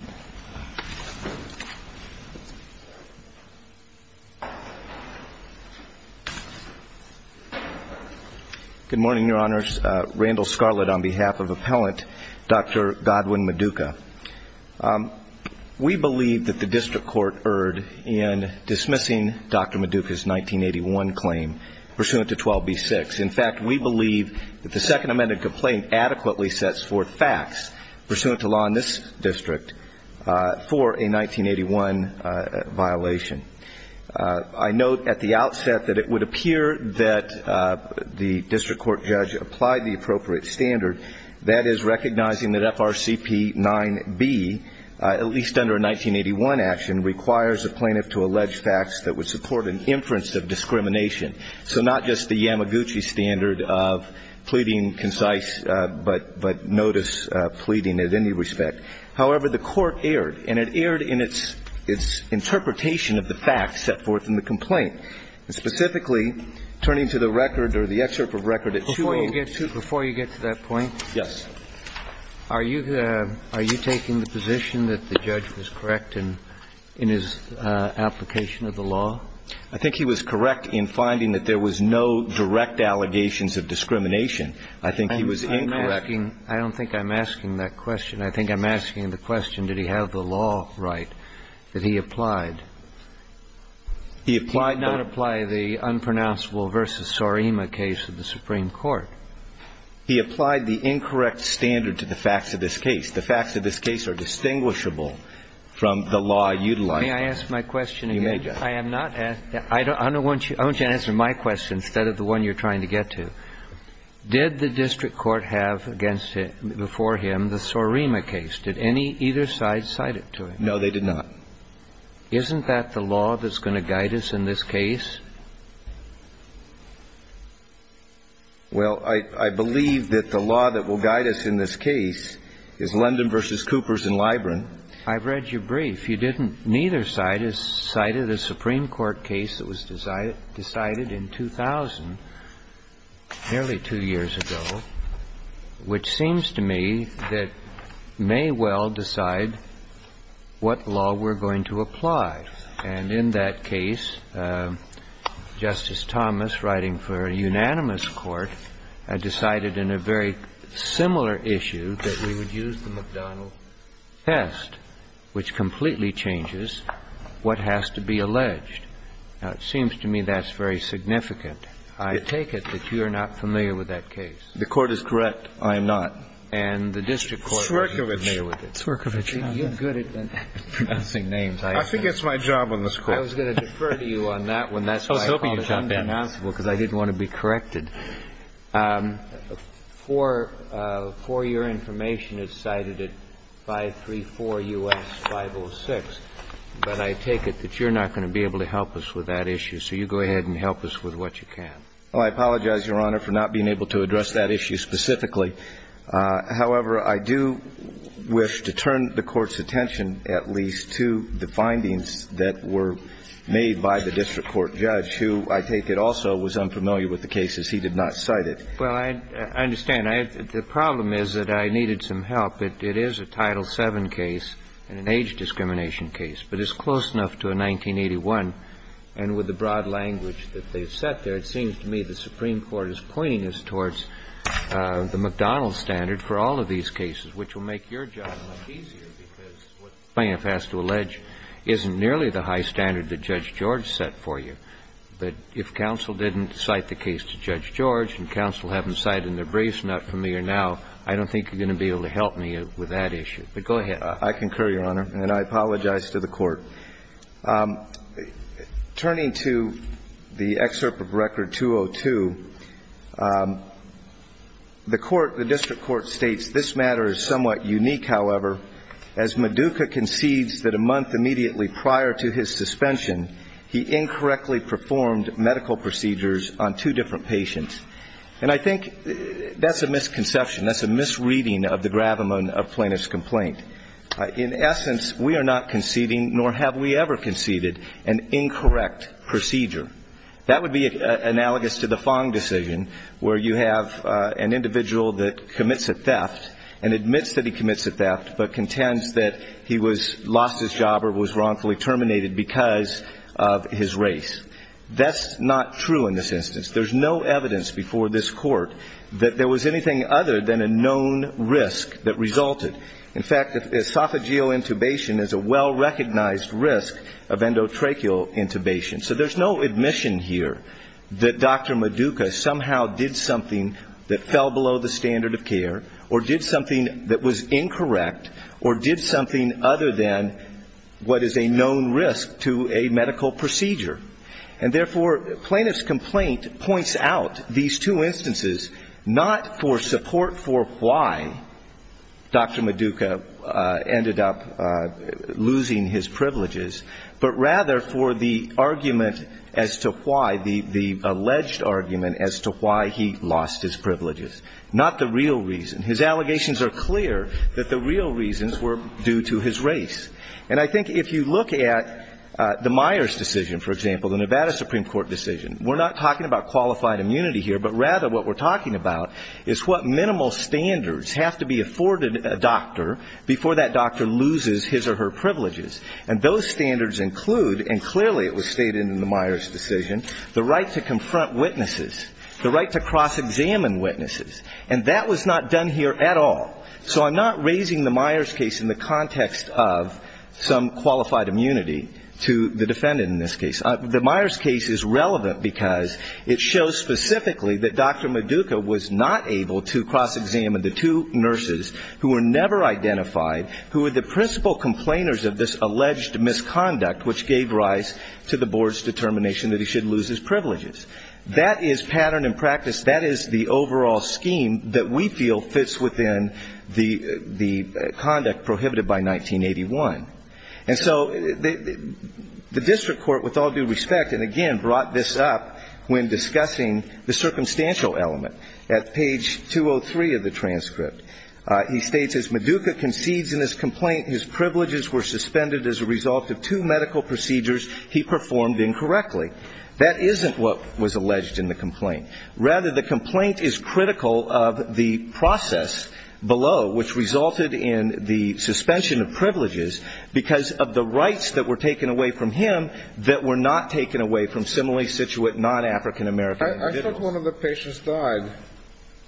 Good morning, Your Honors. Randall Scarlett on behalf of Appellant Dr. Godwin Maduka. We believe that the District Court erred in dismissing Dr. Maduka's 1981 claim pursuant to 12B6. In fact, we believe that the Second Amended Complaint adequately sets forth facts pursuant to law in this district for a 1981 violation. I note at the outset that it would appear that the District Court judge applied the appropriate standard, that is, recognizing that FRCP 9B, at least under a 1981 action, requires a plaintiff to allege facts that would support an inference of discrimination. So not just the Yamaguchi standard of pleading concisely, but notice pleading at any respect. However, the Court erred, and it erred in its interpretation of the facts set forth in the complaint, and specifically, turning to the record or the excerpt of record at 2A2. Before you get to that point? Yes. Are you taking the position that the judge was correct in his application of the law? I think he was correct in finding that there was no direct allegations of discrimination. I think he was incorrect. I'm not asking – I don't think I'm asking that question. I think I'm asking the question, did he have the law right that he applied? He applied the – He did not apply the unpronounceable v. Sorima case of the Supreme Court. He applied the incorrect standard to the facts of this case. The facts of this case are distinguishable from the law utilized. May I ask my question again? You may, Judge. I am not – I don't – I want you to answer my question instead of the one you're trying to get to. Did the district court have against – before him the Sorima case? Did any – either side cite it to him? No, they did not. Isn't that the law that's going to guide us in this case? Well, I believe that the law that will guide us in this case is London v. Coopers in Libron. I've read your brief. You didn't – neither side has cited a Supreme Court case that was decided in 2000, nearly two years ago, which seems to me that may well decide what law we're going to apply. And in that case, Justice Thomas, writing for a unanimous court, decided in a very similar issue that we would use the McDonnell test, which is a very similar case. Now, it seems to me that's very significant. I take it that you're not familiar with that case. The Court is correct. I am not. And the district court wasn't familiar with it. I think you're good at pronouncing names. I think it's my job on this Court. I was going to defer to you on that one. That's why I called it unbeknownstable, because I didn't want to be corrected. Four – four-year information is cited at 534 U.S. 506, but I take it that you're not going to be able to help us with that issue. So you go ahead and help us with what you can. Well, I apologize, Your Honor, for not being able to address that issue specifically. However, I do wish to turn the Court's attention at least to the findings that were made by the district court judge, who I take it also was unfamiliar with the cases he did not cite it. Well, I understand. The problem is that I needed some help. It is a Title VII case and an age discrimination case, but it's close enough to a 1981. And with the broad language that they've set there, it seems to me the Supreme Court is pointing us towards the McDonald standard for all of these cases, which will make your job much easier, because what the plaintiff has to allege isn't nearly the high standard that Judge George set for you. But if counsel didn't cite the case to Judge George and counsel haven't cited it in their briefs, not familiar now, I don't think you're going to be able to help me with that issue. But go ahead. I concur, Your Honor, and I apologize to the Court. Turning to the excerpt of Record 202, the court, the district court states, this matter is somewhat unique, however, as Maduka concedes that a month immediately prior to his suspension, he incorrectly performed medical procedures on two different patients. And I think that's a misconception. That's a misreading of the gravamen of plaintiff's complaint. In essence, we are not conceding, nor have we ever conceded, an incorrect procedure. That would be analogous to the Fong decision, where you have an individual that commits a theft and admits that he commits a theft but contends that he was lost his job or was wrongfully terminated because of his race. That's not true in this instance. There's no evidence before this court that there was anything other than a known risk that resulted. In fact, esophageal intubation is a well-recognized risk of endotracheal intubation. So there's no admission here that Dr. Maduka somehow did something that fell below the standard of care or did something that was incorrect or did something other than what is a known risk to a medical procedure. And therefore, plaintiff's complaint points out these two instances not for support for why Dr. Maduka ended up losing his privileges, but rather for the argument as to why, the alleged argument as to why he lost his privileges, not the real reason. His allegations are clear that the real reasons were due to his race. And I think if you look at the Myers decision, for example, the Nevada Supreme Court decision, we're not talking about qualified immunity here, but rather what we're talking about is what minimal standards have to be afforded a doctor before that doctor loses his or her privileges. And those standards include, and clearly it was stated in the Myers decision, the right to confront witnesses, the right to cross-examine witnesses. And that was not done here at all. So I'm not raising the Myers case in the context of some qualified immunity to the defendant in this case. The Myers case is relevant because it shows specifically that Dr. Maduka was not able to cross-examine the two nurses who were never identified, who were the principal complainers of this alleged misconduct, which gave rise to the board's determination that he should lose his privileges. That is pattern and practice. That is the overall scheme that we feel fits within the conduct prohibited by 1981. And so the district court, with all due respect, and again brought this up when discussing the circumstantial element. At page 203 of the transcript, he states, As Maduka concedes in his complaint his privileges were suspended as a result of two medical procedures he performed incorrectly. That isn't what was alleged in the complaint. Rather, the complaint is critical of the process below, which resulted in the suspension of privileges because of the rights that were taken away from him that were not taken away from similarly situated non-African American individuals. I thought one of the patients died.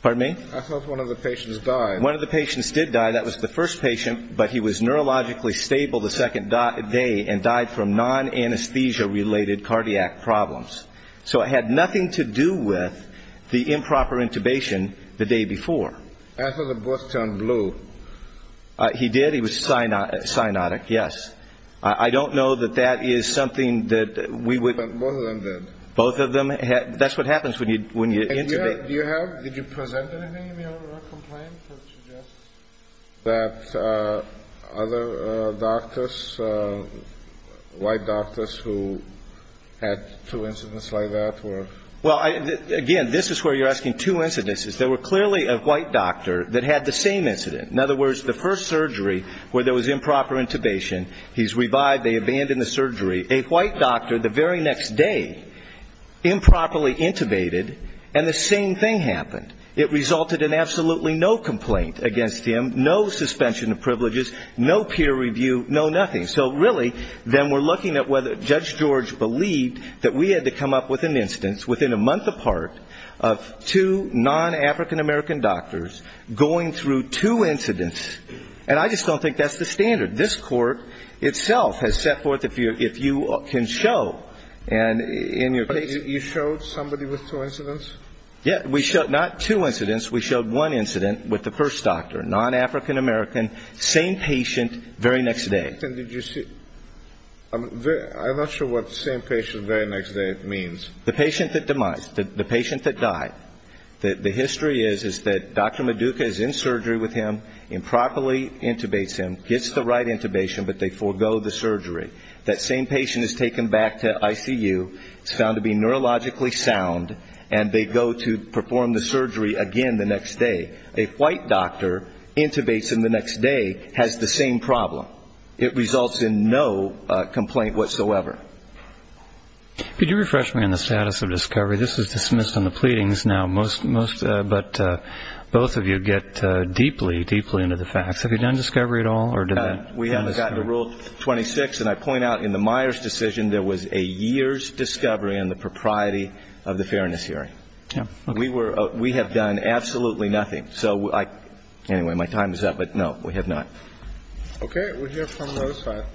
Pardon me? I thought one of the patients died. One of the patients did die. That was the first patient. But he was neurologically stable the second day and died from non-anesthesia related cardiac problems. So it had nothing to do with the improper intubation the day before. I thought the book turned blue. He did. He was cyanotic. Yes. I don't know that that is something that we would. But both of them did. Both of them. That's what happens when you intubate. Did you present anything in your complaint that suggests that other doctors, white doctors who had two incidents like that were? Well, again, this is where you're asking two incidences. There were clearly a white doctor that had the same incident. In other words, the first surgery where there was improper intubation, he's revived, they abandon the surgery. A white doctor the very next day improperly intubated, and the same thing happened. It resulted in absolutely no complaint against him, no suspension of privileges, no peer review, no nothing. So, really, then we're looking at whether Judge George believed that we had to come up with an instance within a month apart of two non-African American doctors going through two incidents. And I just don't think that's the standard. This court itself has set forth if you can show in your case. But you showed somebody with two incidents? Yes. We showed not two incidents. We showed one incident with the first doctor, non-African American, same patient very next day. I'm not sure what same patient very next day means. The patient that died. The history is that Dr. Maduka is in surgery with him, improperly intubates him, gets the right intubation, but they forego the surgery. That same patient is taken back to ICU. It's found to be neurologically sound, and they go to perform the surgery again the next day. A white doctor intubates him the next day, has the same problem. It results in no complaint whatsoever. Could you refresh me on the status of discovery? This is dismissed in the pleadings now, but both of you get deeply, deeply into the facts. Have you done discovery at all? We haven't gotten to Rule 26, and I point out in the Myers decision there was a year's discovery on the propriety of the fairness hearing. We have done absolutely nothing. Anyway, my time is up, but, no, we have not. Okay. We'll hear from those five.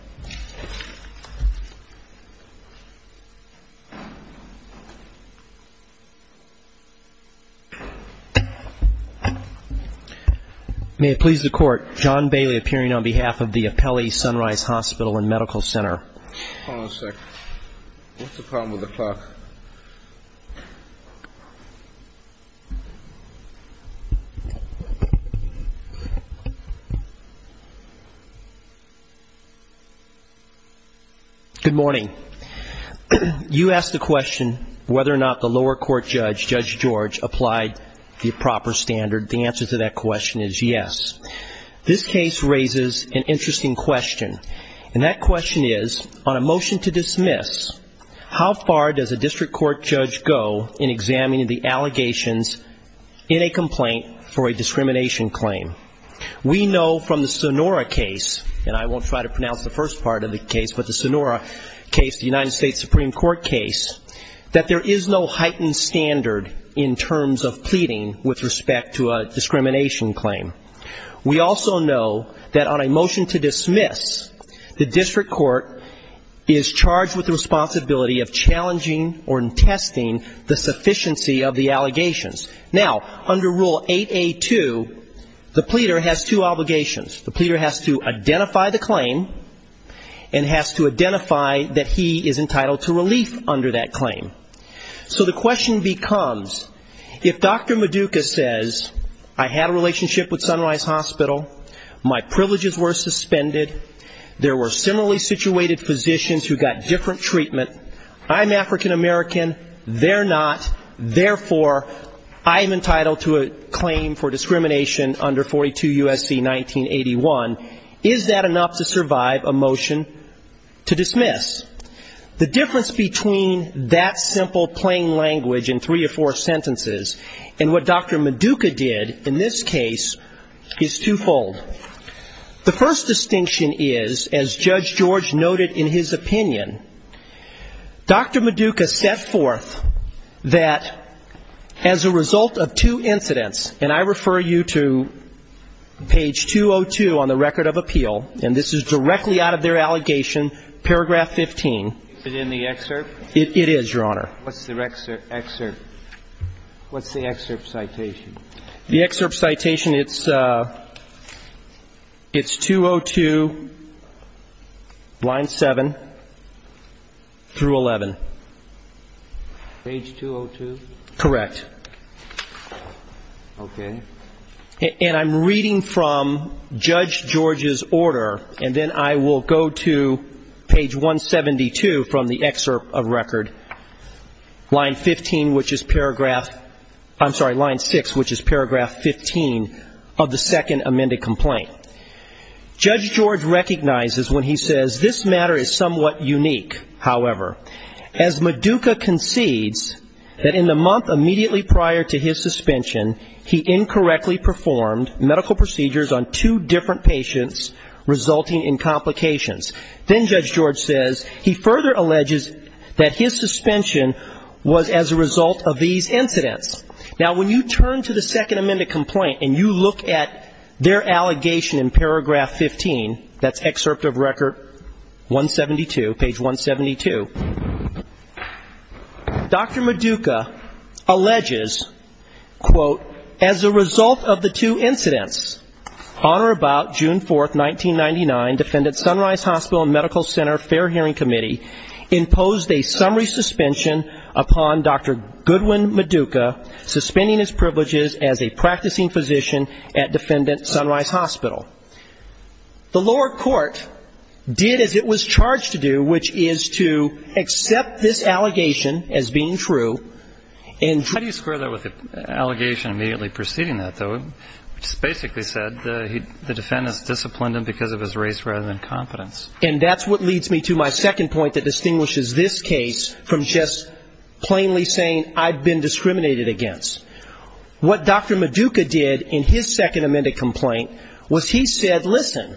May it please the Court, John Bailey appearing on behalf of the Apelli Sunrise Hospital and Medical Center. Hold on a second. What's the problem with the clock? Good morning. You asked the question whether or not the lower court judge, Judge George, applied the proper standard. The answer to that question is yes. This case raises an interesting question, and that question is, on a motion to dismiss, how far does a district court judge go in examining the allegations in a complaint for a discrimination claim? We know from the Sonora case, and I won't try to pronounce the first part of the case, but the Sonora case, the United States Supreme Court case, that there is no heightened standard in terms of pleading with respect to a discrimination claim. We also know that on a motion to dismiss, the district court is charged with the responsibility of challenging or testing the sufficiency of the allegations. Now, under Rule 8A2, the pleader has two obligations. The pleader has to identify the claim and has to identify that he is entitled to relief under that claim. So the question becomes, if Dr. Maduka says, I had a relationship with Sunrise Hospital, my privileges were suspended, there were similarly situated physicians who got different treatment, I'm African-American, they're not, therefore, I am entitled to a claim for discrimination under 42 U.S.C. 1981, is that enough to survive a motion to dismiss? The difference between that simple plain language in three or four sentences and what Dr. Maduka did in this case is twofold. The first distinction is, as Judge George noted in his opinion, Dr. Maduka set forth that as a result of two incidents, and I refer you to page 202 on the Record of Appeal, and this is directly out of their allegation, paragraph 15. Is it in the excerpt? It is, Your Honor. What's the excerpt? What's the excerpt citation? The excerpt citation, it's 202, line 7 through 11. Page 202? Correct. Okay. And I'm reading from Judge George's order, and then I will go to page 172 from the excerpt of Record, line 15, which is paragraph, I'm sorry, line 6, which is paragraph 15 of the second amended complaint. Judge George recognizes when he says, this matter is somewhat unique, however. As Maduka concedes that in the month immediately prior to his suspension, he incorrectly performed medical procedures on two different patients, resulting in complications. Then Judge George says, he further alleges that his suspension was as a result of these incidents. Now, when you turn to the second amended complaint and you look at their allegation in paragraph 15, that's excerpt of Record 172, page 172, Dr. Maduka alleges, quote, as a result of the two incidents, on or about June 4th, 1999, Defendant Sunrise Hospital and Medical Center Fair Hearing Committee imposed a summary suspension upon Dr. Goodwin Maduka, suspending his privileges as a practicing physician at Defendant Sunrise Hospital. The lower court did as it was charged to do, which is to accept this allegation as being true and How do you square that with the allegation immediately preceding that, though? It basically said the defendant has disciplined him because of his race rather than confidence. And that's what leads me to my second point that distinguishes this case from just plainly saying I've been discriminated against. What Dr. Maduka did in his second amended complaint was he said, listen,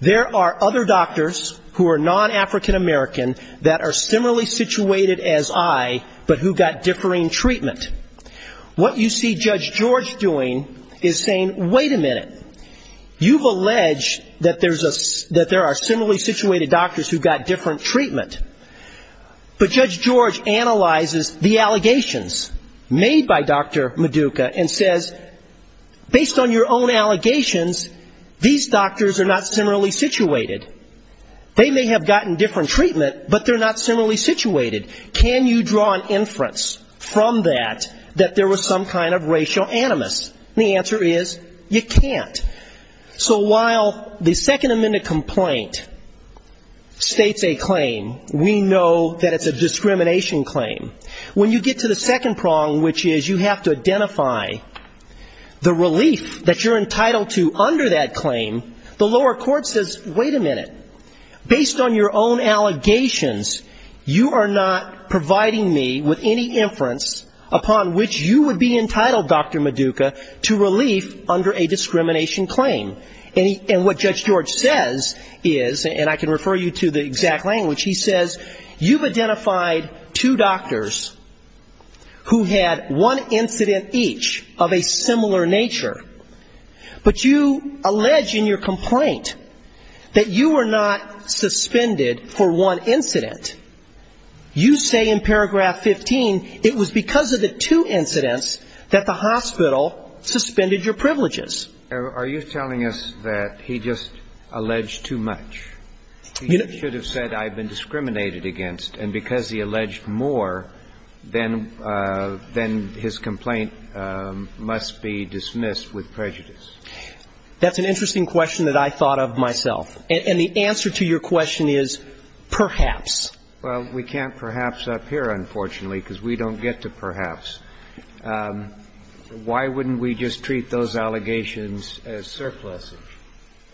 there are other doctors who are non-African American that are similarly situated as I, but who got differing treatment. What you see Judge George doing is saying, wait a minute, you've alleged that there are similarly situated doctors who got different treatment. But Judge George analyzes the allegations made by Dr. Maduka and says, based on your own allegations, these doctors are not similarly situated. They may have gotten different treatment, but they're not similarly situated. Can you draw an inference from that that there was some kind of racial animus? And the answer is you can't. So while the second amended complaint states a claim, we know that it's a discrimination claim. When you get to the second prong, which is you have to identify the relief that you're entitled to under that claim, the lower court says, wait a minute, based on your own allegations, you are not providing me with any inference upon which you would be entitled, Dr. Maduka, to relief under a discrimination claim. And what Judge George says is, and I can refer you to the exact language, he says you've identified two doctors who had one incident each of a similar nature, but you allege in your complaint that you were not suspended for one incident. You say in paragraph 15 it was because of the two incidents that the hospital suspended your privileges. Are you telling us that he just alleged too much? He should have said I've been discriminated against. And because he alleged more, then his complaint must be dismissed with prejudice. That's an interesting question that I thought of myself. And the answer to your question is perhaps. Well, we can't perhaps up here, unfortunately, because we don't get to perhaps. Why wouldn't we just treat those allegations as surpluses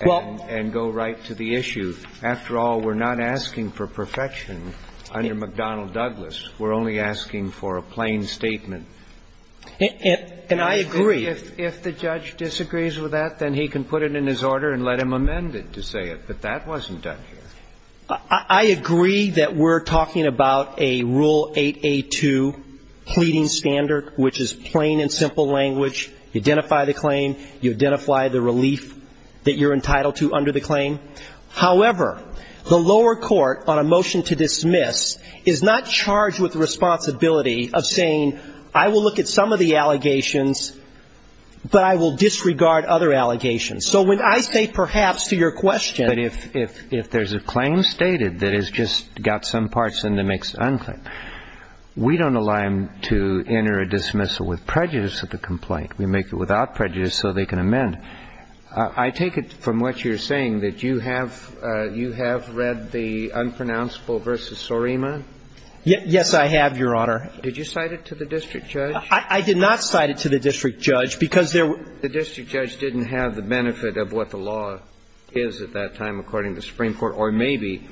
and go right to the issue after all, we're not asking for perfection under McDonnell Douglas. We're only asking for a plain statement. And I agree. If the judge disagrees with that, then he can put it in his order and let him amend it to say it. But that wasn't done here. I agree that we're talking about a Rule 8a2 pleading standard, which is plain and simple language. You identify the relief that you're entitled to under the claim. However, the lower court on a motion to dismiss is not charged with the responsibility of saying I will look at some of the allegations, but I will disregard other allegations. So when I say perhaps to your question. But if there's a claim stated that has just got some parts in the mixed unclaimed, we don't allow him to enter a dismissal with prejudice of the complaint. We make it without prejudice so they can amend. I take it from what you're saying that you have you have read the unpronounceable v. Sorima? Yes, I have, Your Honor. Did you cite it to the district judge? I did not cite it to the district judge because there were. The district judge didn't have the benefit of what the law is at that time, according to the Supreme Court, or maybe.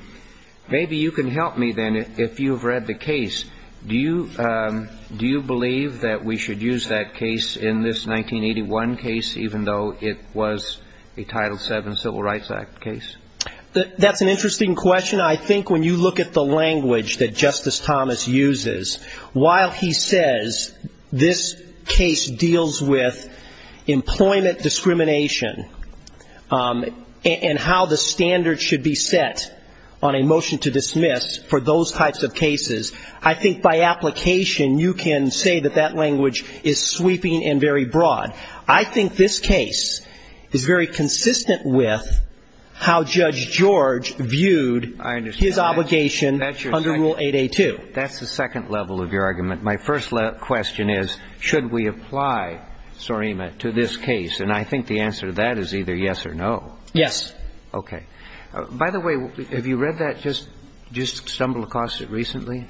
Maybe you can help me then if you've read the case. Do you do you believe that we should use that case in this 1981 case, even though it was a Title VII Civil Rights Act case? That's an interesting question. I think when you look at the language that Justice Thomas uses, while he says this case deals with employment discrimination and how the standards should be set on a motion to I think by application you can say that that language is sweeping and very broad. I think this case is very consistent with how Judge George viewed his obligation under Rule 8A2. That's the second level of your argument. My first question is, should we apply Sorima to this case? And I think the answer to that is either yes or no. Yes. Okay. By the way, have you read that, just stumbled across it recently?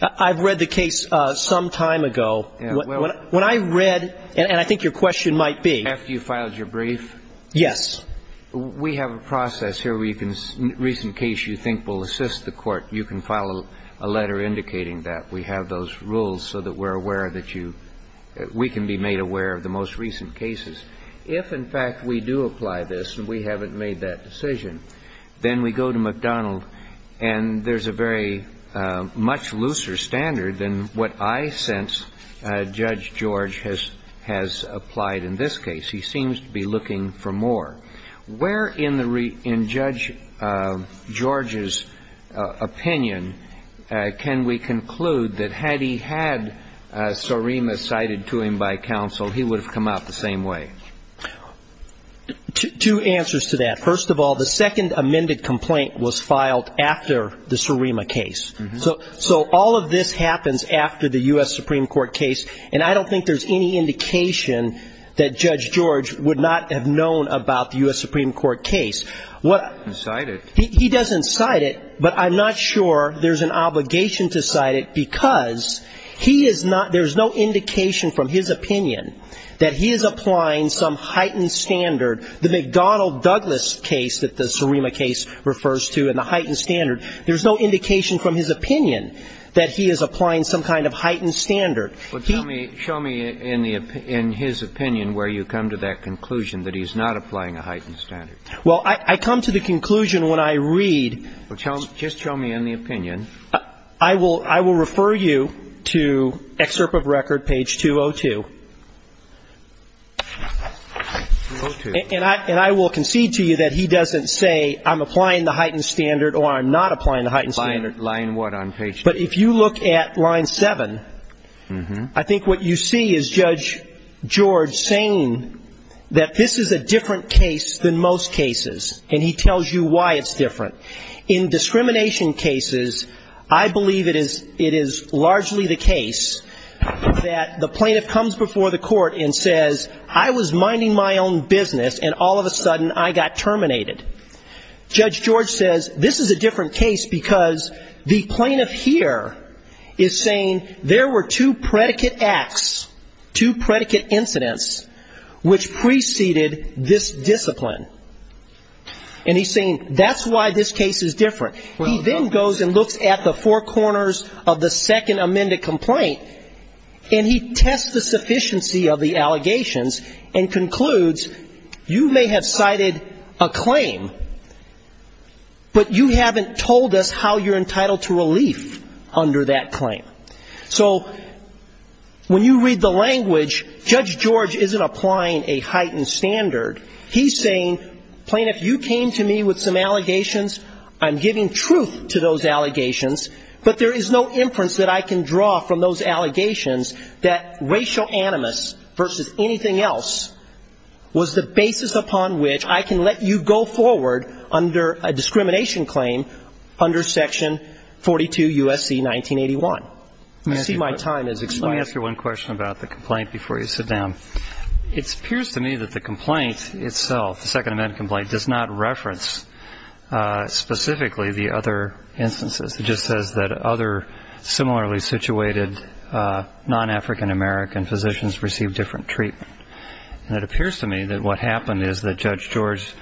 I've read the case some time ago. When I read, and I think your question might be. After you filed your brief? Yes. We have a process here where you can, a recent case you think will assist the Court, you can file a letter indicating that. We have those rules so that we're aware that you, we can be made aware of the most recent cases. If, in fact, we do apply this and we haven't made that decision, then we go to McDonald and there's a very much looser standard than what I sense Judge George has applied in this case. He seems to be looking for more. Where in Judge George's opinion can we conclude that had he had Sorima cited to him by counsel, he would have come out the same way? Two answers to that. First of all, the second amended complaint was filed after the Sorima case. So all of this happens after the U.S. Supreme Court case. And I don't think there's any indication that Judge George would not have known about the U.S. Supreme Court case. He doesn't cite it. But I'm not sure there's an obligation to cite it because he is not, there's no indication from his opinion that he is applying some heightened standard. The McDonald-Douglas case that the Sorima case refers to and the heightened standard, there's no indication from his opinion that he is applying some kind of heightened standard. Show me in his opinion where you come to that conclusion that he's not applying a heightened standard. Well, I come to the conclusion when I read. Just show me in the opinion. I will refer you to excerpt of record, page 202. And I will concede to you that he doesn't say I'm applying the heightened standard or I'm not applying the heightened standard. Line what on page 202? But if you look at line 7, I think what you see is Judge George saying that this is a different case than most cases. And he tells you why it's different. In discrimination cases, I believe it is largely the case that the plaintiff comes before the court and says, I was minding my own business and all of a sudden I got terminated. Judge George says this is a different case because the plaintiff here is saying there were two predicate acts, two predicate incidents, which preceded this discipline. And he's saying that's why this case is different. He then goes and looks at the four corners of the second amended complaint, and he tests the sufficiency of the allegations and concludes you may have cited a claim, but you haven't told us how you're entitled to relief under that claim. So when you read the language, Judge George isn't applying a heightened standard. He's saying, Plaintiff, you came to me with some allegations. I'm giving truth to those allegations, but there is no inference that I can draw from those allegations that racial animus versus anything else was the basis upon which I can let you go forward under a discrimination claim under section 42 U.S.C. 1981. I see my time has expired. Let me ask you one question about the complaint before you sit down. It appears to me that the complaint itself, the second amended complaint, does not reference specifically the other instances. It just says that other similarly situated non-African American physicians received different treatment. And it appears to me that what happened is that Judge George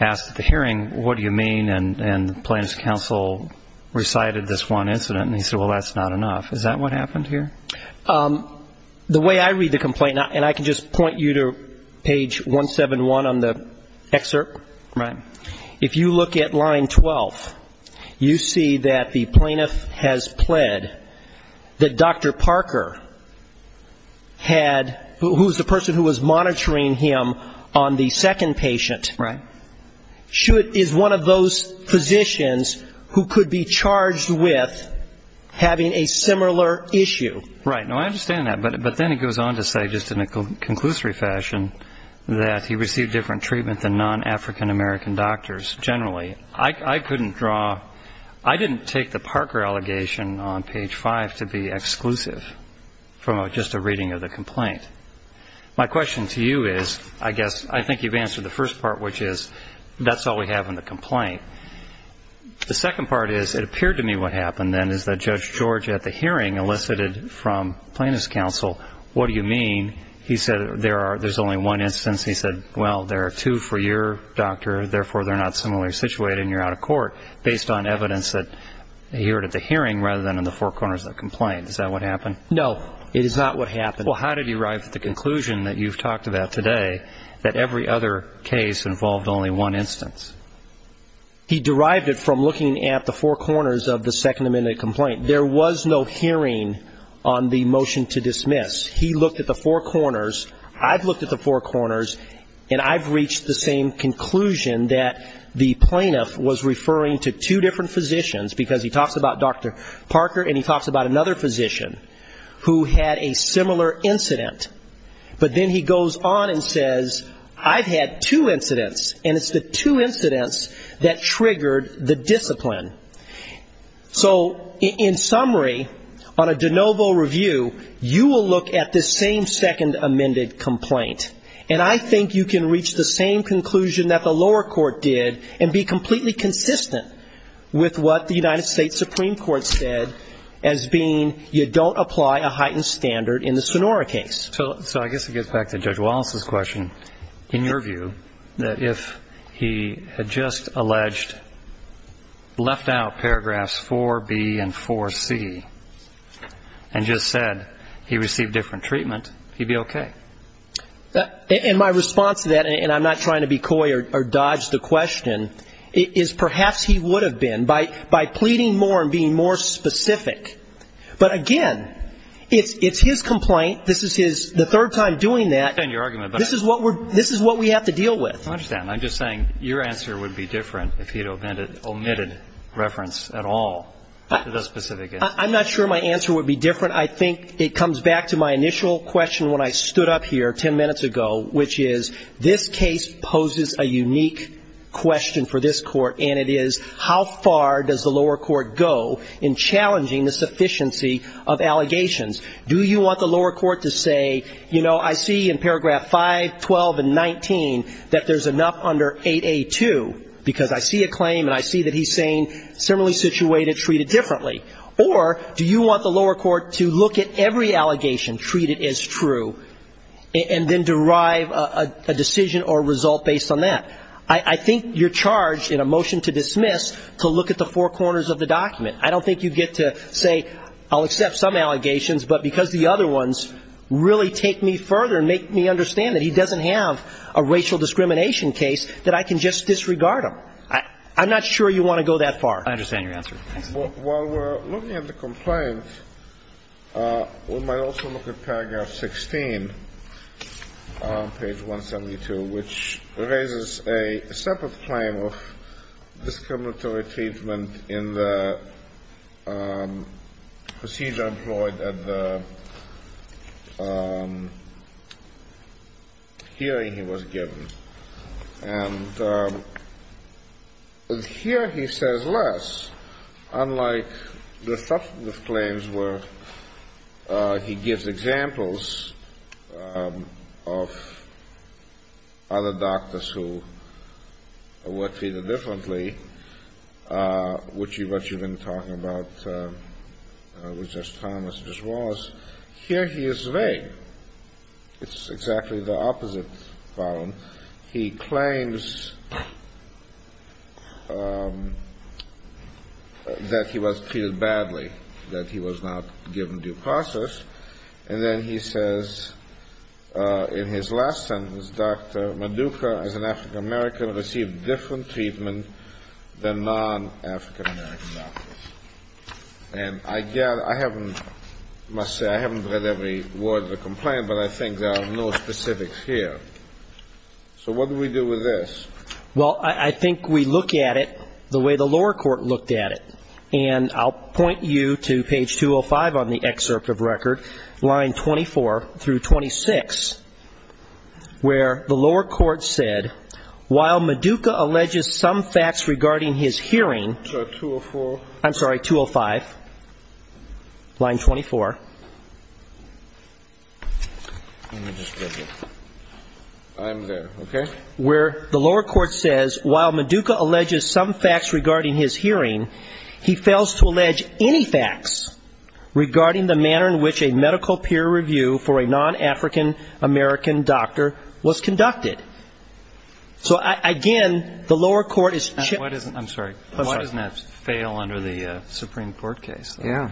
asked at the hearing, what do you mean, and the plaintiff's counsel recited this one incident, and he said, well, that's not enough. Is that what happened here? The way I read the complaint, and I can just point you to page 171 on the excerpt. Right. If you look at line 12, you see that the plaintiff has pled that Dr. Parker had, who was the person who was monitoring him on the second patient. Right. Is one of those physicians who could be charged with having a similar issue. Right. No, I understand that. But then it goes on to say, just in a conclusory fashion, that he received different treatment than non-African American doctors generally. I couldn't draw. I didn't take the Parker allegation on page 5 to be exclusive from just a reading of the complaint. My question to you is, I guess, I think you've answered the first part, which is that's all we have in the complaint. The second part is, it appeared to me what happened then is that Judge George, at the hearing, elicited from plaintiff's counsel, what do you mean? He said there's only one instance. He said, well, there are two for your doctor, therefore they're not similarly situated and you're out of court, based on evidence that he heard at the hearing rather than in the four corners of the complaint. Is that what happened? No, it is not what happened. Well, how did he arrive at the conclusion that you've talked about today, that every other case involved only one instance? He derived it from looking at the four corners of the Second Amendment complaint. There was no hearing on the motion to dismiss. He looked at the four corners, I've looked at the four corners, and I've reached the same conclusion that the plaintiff was referring to two different physicians, because he talks about Dr. Parker and he talks about another physician, who had a similar incident. But then he goes on and says, I've had two incidents, and it's the two incidents that triggered the discipline. So, in summary, on a de novo review, you will look at this same Second Amendment complaint, and I think you can reach the same conclusion that the lower court did and be completely consistent with what the United States Supreme Court said, as being you don't apply a heightened standard in the Sonora case. So I guess it gets back to Judge Wallace's question. In your view, that if he had just alleged, left out paragraphs 4B and 4C, and just said he received different treatment, he'd be okay? And my response to that, and I'm not trying to be coy or dodge the question, is perhaps he would have been, by pleading more and being more specific. But, again, it's his complaint. This is the third time doing that. I understand your argument. This is what we have to deal with. I understand. I'm just saying your answer would be different if he had omitted reference at all to those specific incidents. I'm not sure my answer would be different. I think it comes back to my initial question when I stood up here ten minutes ago, which is this case poses a unique question for this court, and it is how far does the lower court go in challenging the sufficiency of allegations? Do you want the lower court to say, you know, I see in paragraph 5, 12, and 19 that there's enough under 8A2, because I see a claim and I see that he's saying similarly situated, treated differently. Or do you want the lower court to look at every allegation treated as true and then derive a decision or result based on that? I think you're charged in a motion to dismiss to look at the four corners of the document. I don't think you get to say, I'll accept some allegations, but because the other ones really take me further and make me understand that he doesn't have a racial discrimination case, that I can just disregard them. I'm not sure you want to go that far. I understand your answer. While we're looking at the complaint, we might also look at paragraph 16, page 172, which raises a separate claim of discriminatory treatment in the procedure employed at the hearing he was given. And here he says less, unlike the claims where he gives examples of other doctors who were treated differently, which you've been talking about, which is Thomas, here he is vague. It's exactly the opposite problem. He claims that he was treated badly, that he was not given due process. And then he says in his last sentence, Dr. Maduka, as an African-American, received different treatment than non-African-American doctors. And I must say, I haven't read every word of the complaint, but I think there are no specifics here. So what do we do with this? Well, I think we look at it the way the lower court looked at it. And I'll point you to page 205 on the excerpt of record, line 24 through 26, where the lower court said, while Maduka alleges some facts regarding his hearing. So 204. I'm sorry, 205, line 24. Let me just grab it. I'm there. Okay. Where the lower court says, while Maduka alleges some facts regarding his hearing, he fails to allege any facts regarding the manner in which a medical peer review for a non-African-American doctor was conducted. So, again, the lower court is chipped. I'm sorry. Why doesn't that fail under the Supreme Court case? Yeah.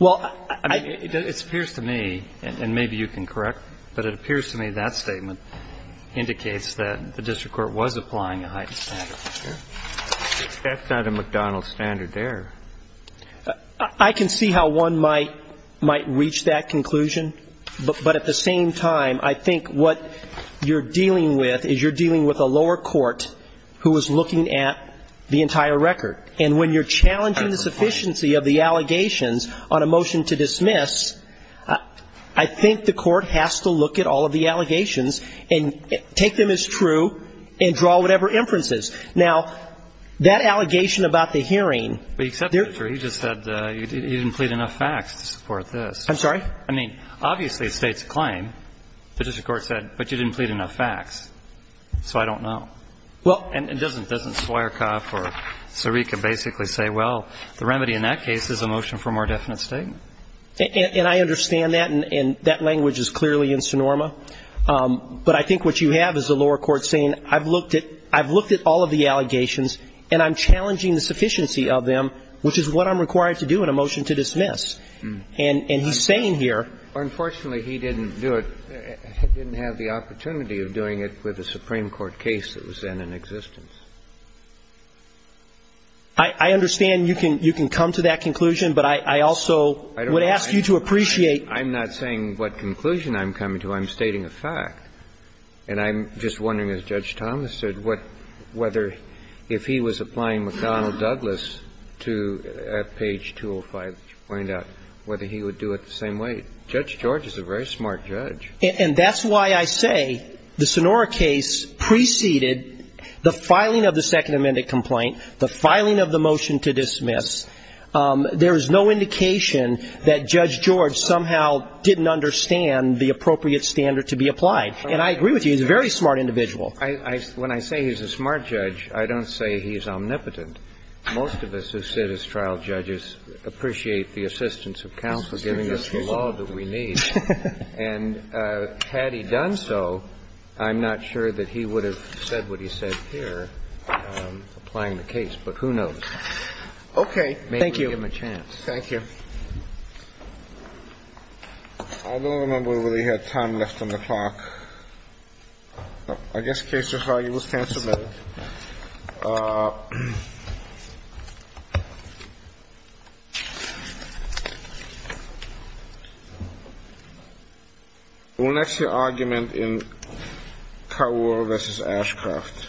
Well, I mean, it appears to me, and maybe you can correct, but it appears to me that statement indicates that the district court was applying a heightened standard of care. That's not a McDonald's standard there. I can see how one might reach that conclusion. But at the same time, I think what you're dealing with is you're dealing with a lower court who is looking at the entire record. And when you're challenging the sufficiency of the allegations on a motion to dismiss, I think the court has to look at all of the allegations and take them as true and draw whatever inferences. Now, that allegation about the hearing. But you accepted it, sir. You just said you didn't plead enough facts to support this. I'm sorry? I mean, obviously it states a claim. The district court said, but you didn't plead enough facts, so I don't know. Well. And doesn't Soyercoff or Sirica basically say, well, the remedy in that case is a motion for a more definite statement? And I understand that, and that language is clearly in Sonoma. But I think what you have is a lower court saying I've looked at all of the allegations and I'm challenging the sufficiency of them, which is what I'm required to do in a motion to dismiss. And he's saying here. Unfortunately, he didn't do it, didn't have the opportunity of doing it with a Supreme Court case that was then in existence. I understand you can come to that conclusion, but I also would ask you to appreciate. I'm not saying what conclusion I'm coming to. I'm stating a fact. And I'm just wondering, as Judge Thomas said, whether if he was applying McDonnell-Douglas to page 205, would you find out whether he would do it the same way? Judge George is a very smart judge. And that's why I say the Sonora case preceded the filing of the Second Amendment complaint, the filing of the motion to dismiss. There is no indication that Judge George somehow didn't understand the appropriate standard to be applied. And I agree with you. He's a very smart individual. When I say he's a smart judge, I don't say he's omnipotent. Most of us who sit as trial judges appreciate the assistance of counsel giving us the law that we need. And had he done so, I'm not sure that he would have said what he said here applying the case. But who knows? Okay. Thank you. Maybe we'll give him a chance. Thank you. I don't remember if we really had time left on the clock. I guess the case is filed. You will stand submitted. We'll next hear argument in Carroll v. Ashcroft. Thank you.